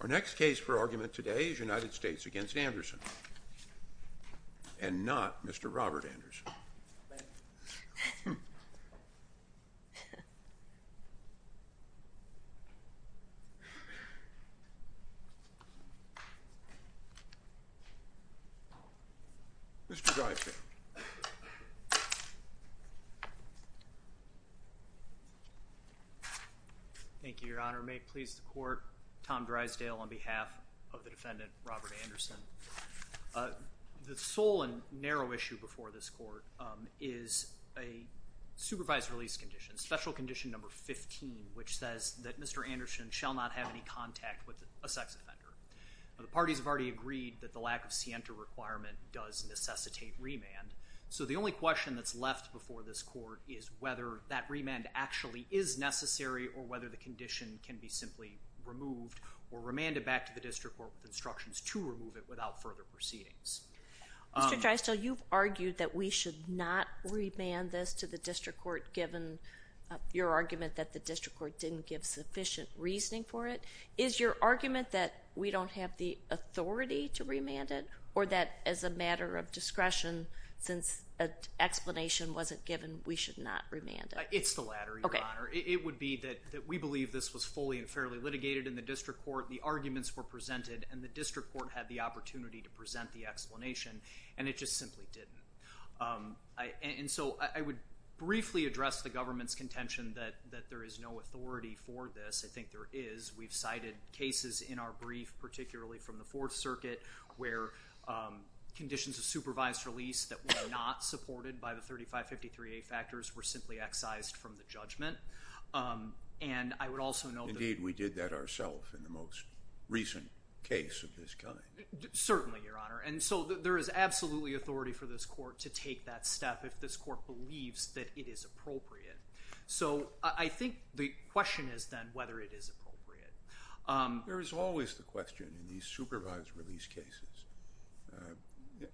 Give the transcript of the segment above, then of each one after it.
Our next case for argument today is United States v. Anderson, and not Mr. Robert Anderson. Mr. Dyson. Thank you, your honor. May it please the court, Tom Drysdale on behalf of the defendant, Robert Anderson. The sole and narrow issue before this court is a supervised release condition, special condition number 15, which says that Mr. Anderson shall not have any contact with a sex offender. The parties have already agreed that the lack of scienter requirement does necessitate remand. So the only question that's left before this court is whether that remand actually is necessary or whether the condition can be simply removed or remanded back to the district court with instructions to remove it without further proceedings. Mr. Drysdale, you've argued that we should not remand this to the district court given your argument that the district court didn't give sufficient reasoning for it. Is your argument that we don't have the authority to remand it or that as a matter of discretion, since an explanation wasn't given, we should not remand it? It's the latter, your honor. It would be that we believe this was fully and fairly litigated in the district court. The arguments were presented and the district court had the opportunity to present the explanation and it just simply didn't. And so I would briefly address the government's contention that there is no authority for this. I think there is. We've cited cases in our brief, particularly from the Fourth Circuit, where conditions of supervised release that were not supported by the 3553A factors were simply excised from the judgment. Indeed, we did that ourselves in the most recent case of this kind. Certainly, your honor. And so there is absolutely authority for this court to take that step if this court believes that it is appropriate. So I think the question is then whether it is appropriate. There is always the question in these supervised release cases.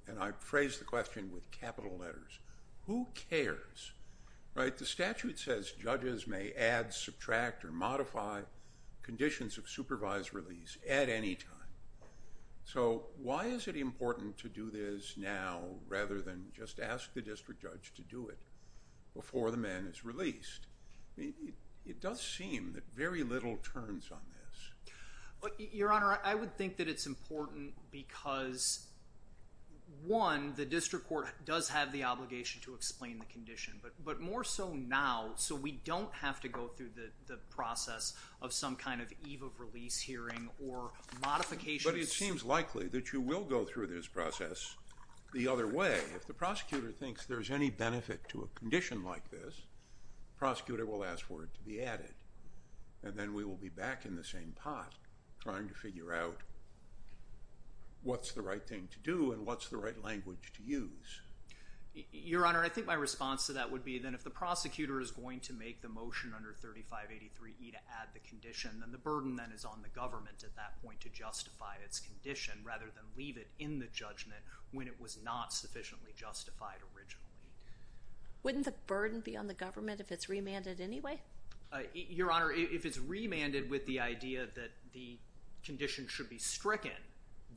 And I phrase the question with capital letters. Who cares, right? The statute says judges may add, subtract, or modify conditions of supervised release at any time. So why is it important to do this now rather than just ask the district judge to do it before the man is released? It does seem that very little turns on this. Your honor, I would think that it's important because, one, the district court does have the obligation to explain the condition. But more so now, so we don't have to go through the process of some kind of eve of release hearing or modifications. But it seems likely that you will go through this process the other way. If the prosecutor thinks there's any benefit to a condition like this, the prosecutor will ask for it to be added. And then we will be back in the same pot trying to figure out what's the right thing to do and what's the right language to use. Your honor, I think my response to that would be that if the prosecutor is going to make the motion under 3583E to add the condition, then the burden is on the government at that point to justify its condition rather than leave it in the judgment when it was not sufficiently justified originally. Wouldn't the burden be on the government if it's remanded anyway? Your honor, if it's remanded with the idea that the condition should be stricken,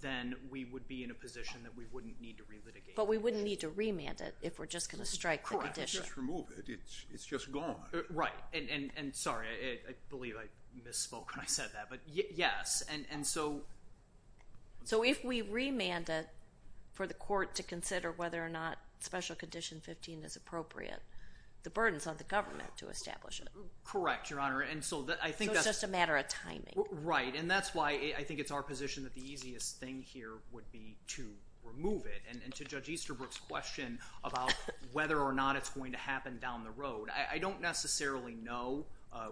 then we would be in a position that we wouldn't need to relitigate. But we wouldn't need to remand it if we're just going to strike the condition. Correct. Just remove it. It's just gone. Right. And sorry, I believe I misspoke when I said that, but yes. So if we remand it for the court to consider whether or not special condition 15 is appropriate, the burden is on the government to establish it. Correct, your honor. So it's just a matter of timing. Right. And that's why I think it's our position that the easiest thing here would be to remove it. And to Judge Easterbrook's question about whether or not it's going to happen down the road, I don't necessarily know.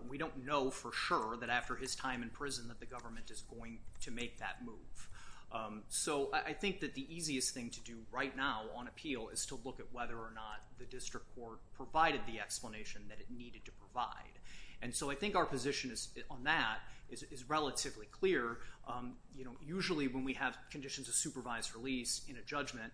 We don't know for sure that after his time in prison that the government is going to make that move. So I think that the easiest thing to do right now on appeal is to look at whether or not the district court provided the explanation that it needed to provide. And so I think our position on that is relatively clear. Usually when we have conditions of supervised release in a judgment,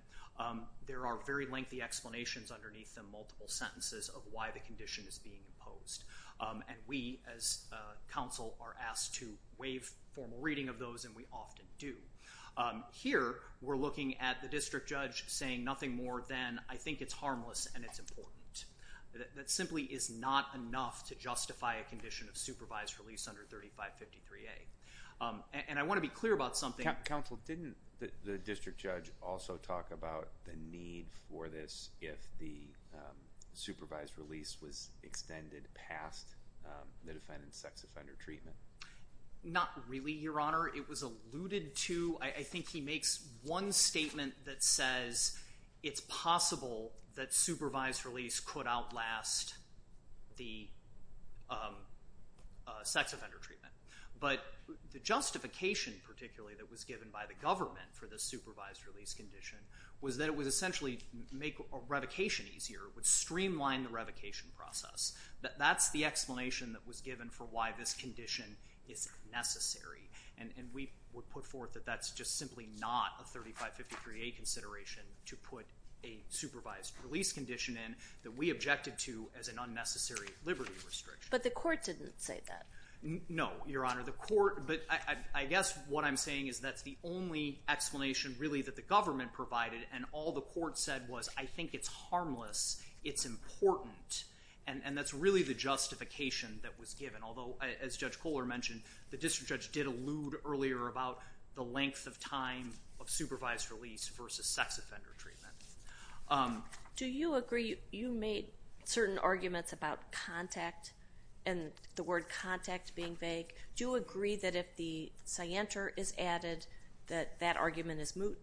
there are very lengthy explanations underneath them, multiple sentences of why the condition is being imposed. And we, as counsel, are asked to waive formal reading of those, and we often do. Here, we're looking at the district judge saying nothing more than, I think it's harmless and it's important. That simply is not enough to justify a condition of supervised release under 3553A. And I want to be clear about something. Counsel, didn't the district judge also talk about the need for this if the supervised release was extended past the defendant's sex offender treatment? Not really, Your Honor. I think he makes one statement that says it's possible that supervised release could outlast the sex offender treatment. But the justification, particularly, that was given by the government for the supervised release condition was that it would essentially make revocation easier, would streamline the revocation process. That's the explanation that was given for why this condition is necessary. And we would put forth that that's just simply not a 3553A consideration to put a supervised release condition in that we objected to as an unnecessary liberty restriction. But the court didn't say that. No, Your Honor. But I guess what I'm saying is that's the only explanation, really, that the government provided. And all the court said was, I think it's harmless, it's important. And that's really the justification that was given. Although, as Judge Kohler mentioned, the district judge did allude earlier about the length of time of supervised release versus sex offender treatment. Do you agree you made certain arguments about contact and the word contact being vague? Do you agree that if the scienter is added, that that argument is moot?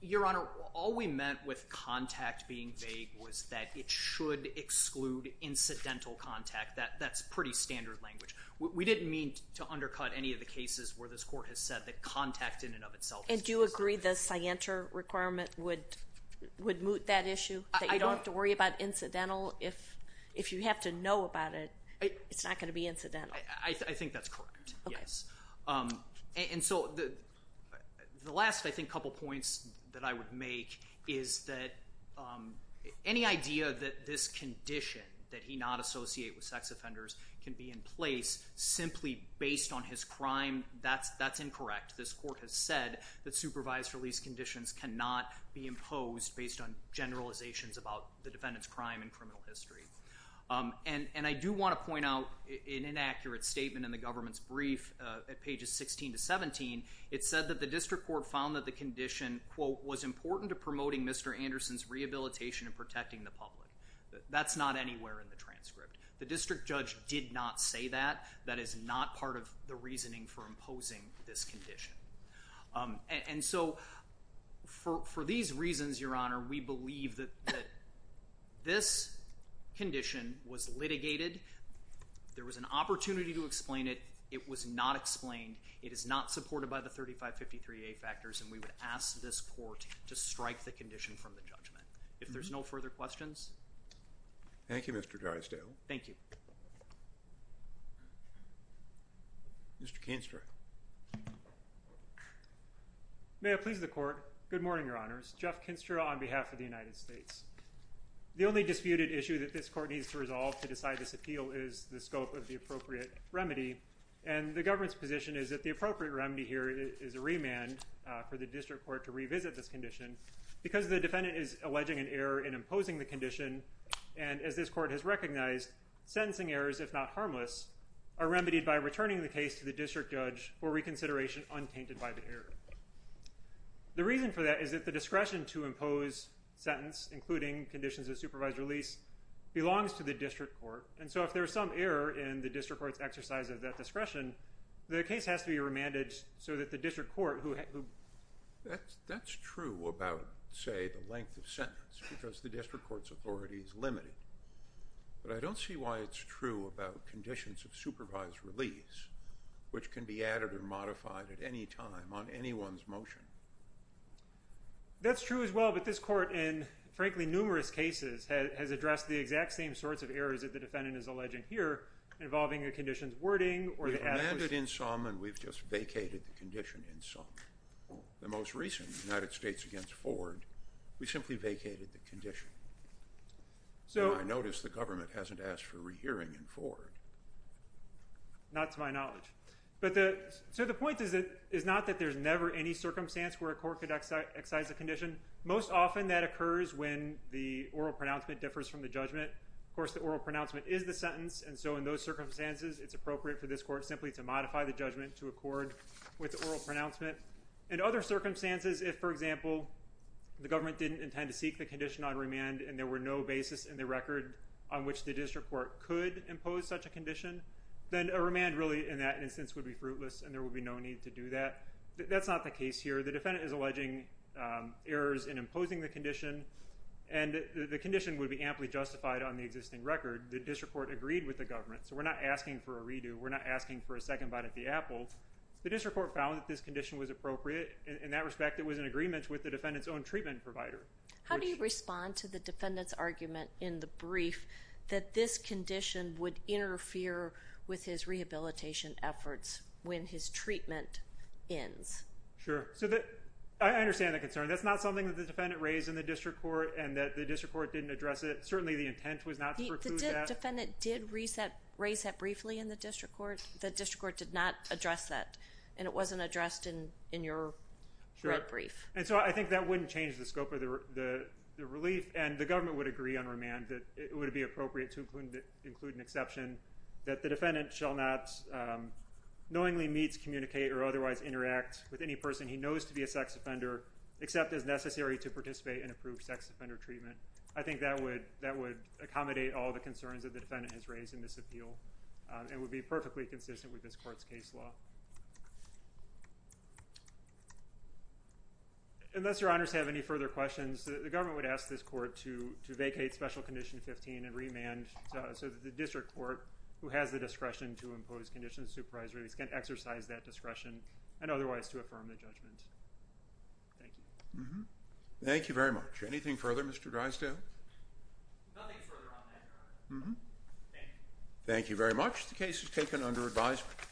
Your Honor, all we meant with contact being vague was that it should exclude incidental contact. That's pretty standard language. We didn't mean to undercut any of the cases where this court has said that contact in and of itself is considered. And do you agree the scienter requirement would moot that issue, that you don't have to worry about incidental? If you have to know about it, it's not going to be incidental. I think that's correct, yes. And so the last, I think, couple points that I would make is that any idea that this condition that he not associate with sex offenders can be in place simply based on his crime, that's incorrect. This court has said that supervised release conditions cannot be imposed based on generalizations about the defendant's crime and criminal history. And I do want to point out an inaccurate statement in the government's brief at pages 16 to 17. It said that the district court found that the condition, quote, was important to promoting Mr. Anderson's rehabilitation and protecting the public. That's not anywhere in the transcript. The district judge did not say that. That is not part of the reasoning for imposing this condition. And so for these reasons, Your Honor, we believe that this condition was litigated. There was an opportunity to explain it. It was not explained. It is not supported by the 3553A factors, and we would ask this court to strike the condition from the judgment. If there's no further questions. Thank you, Mr. Drysdale. Thank you. Mr. Kinstra. May it please the court. Good morning, Your Honors. Jeff Kinstra on behalf of the United States. The only disputed issue that this court needs to resolve to decide this appeal is the scope of the appropriate remedy. And the government's position is that the appropriate remedy here is a remand for the district court to revisit this condition because the defendant is alleging an error in imposing the condition. And as this court has recognized, sentencing errors, if not harmless, are remedied by returning the case to the district judge for reconsideration untainted by the error. The reason for that is that the discretion to impose sentence, including conditions of supervised release, belongs to the district court. And so if there's some error in the district court's exercise of that discretion, the case has to be remanded so that the district court who – That's true about, say, the length of sentence because the district court's authority is limited. But I don't see why it's true about conditions of supervised release, which can be added or modified at any time on anyone's motion. That's true as well, but this court, in frankly numerous cases, has addressed the exact same sorts of errors that the defendant is alleging here involving a condition's wording or the – We've remanded in some and we've just vacated the condition in some. The most recent, United States against Ford, we simply vacated the condition. I notice the government hasn't asked for rehearing in Ford. Not to my knowledge. So the point is not that there's never any circumstance where a court could excise a condition. Most often that occurs when the oral pronouncement differs from the judgment. Of course, the oral pronouncement is the sentence, and so in those circumstances it's appropriate for this court simply to modify the judgment to accord with oral pronouncement. In other circumstances, if, for example, the government didn't intend to seek the condition on remand and there were no basis in the record on which the district court could impose such a condition, then a remand really in that instance would be fruitless and there would be no need to do that. That's not the case here. The defendant is alleging errors in imposing the condition, and the condition would be amply justified on the existing record. The district court agreed with the government, so we're not asking for a redo. We're not asking for a second bite at the apple. The district court found that this condition was appropriate. In that respect, it was in agreement with the defendant's own treatment provider. How do you respond to the defendant's argument in the brief that this condition would interfere with his rehabilitation efforts when his treatment ends? Sure. I understand the concern. That's not something that the defendant raised in the district court and that the district court didn't address it. Certainly the intent was not to preclude that. The defendant did raise that briefly in the district court. The district court did not address that, and it wasn't addressed in your brief. And so I think that wouldn't change the scope of the relief, and the government would agree on remand that it would be appropriate to include an exception that the defendant shall not knowingly meet, communicate, or otherwise interact with any person he knows to be a sex offender except as necessary to participate in approved sex offender treatment. I think that would accommodate all the concerns that the defendant has raised in this appeal and would be perfectly consistent with this court's case law. Unless your honors have any further questions, the government would ask this court to vacate Special Condition 15 and remand so that the district court, who has the discretion to impose conditions of supervised release, can exercise that discretion and otherwise to affirm the judgment. Thank you. Thank you very much. Anything further, Mr. Drysdale? Nothing further on that, Your Honor. Thank you. Thank you very much. The case is taken under advisement.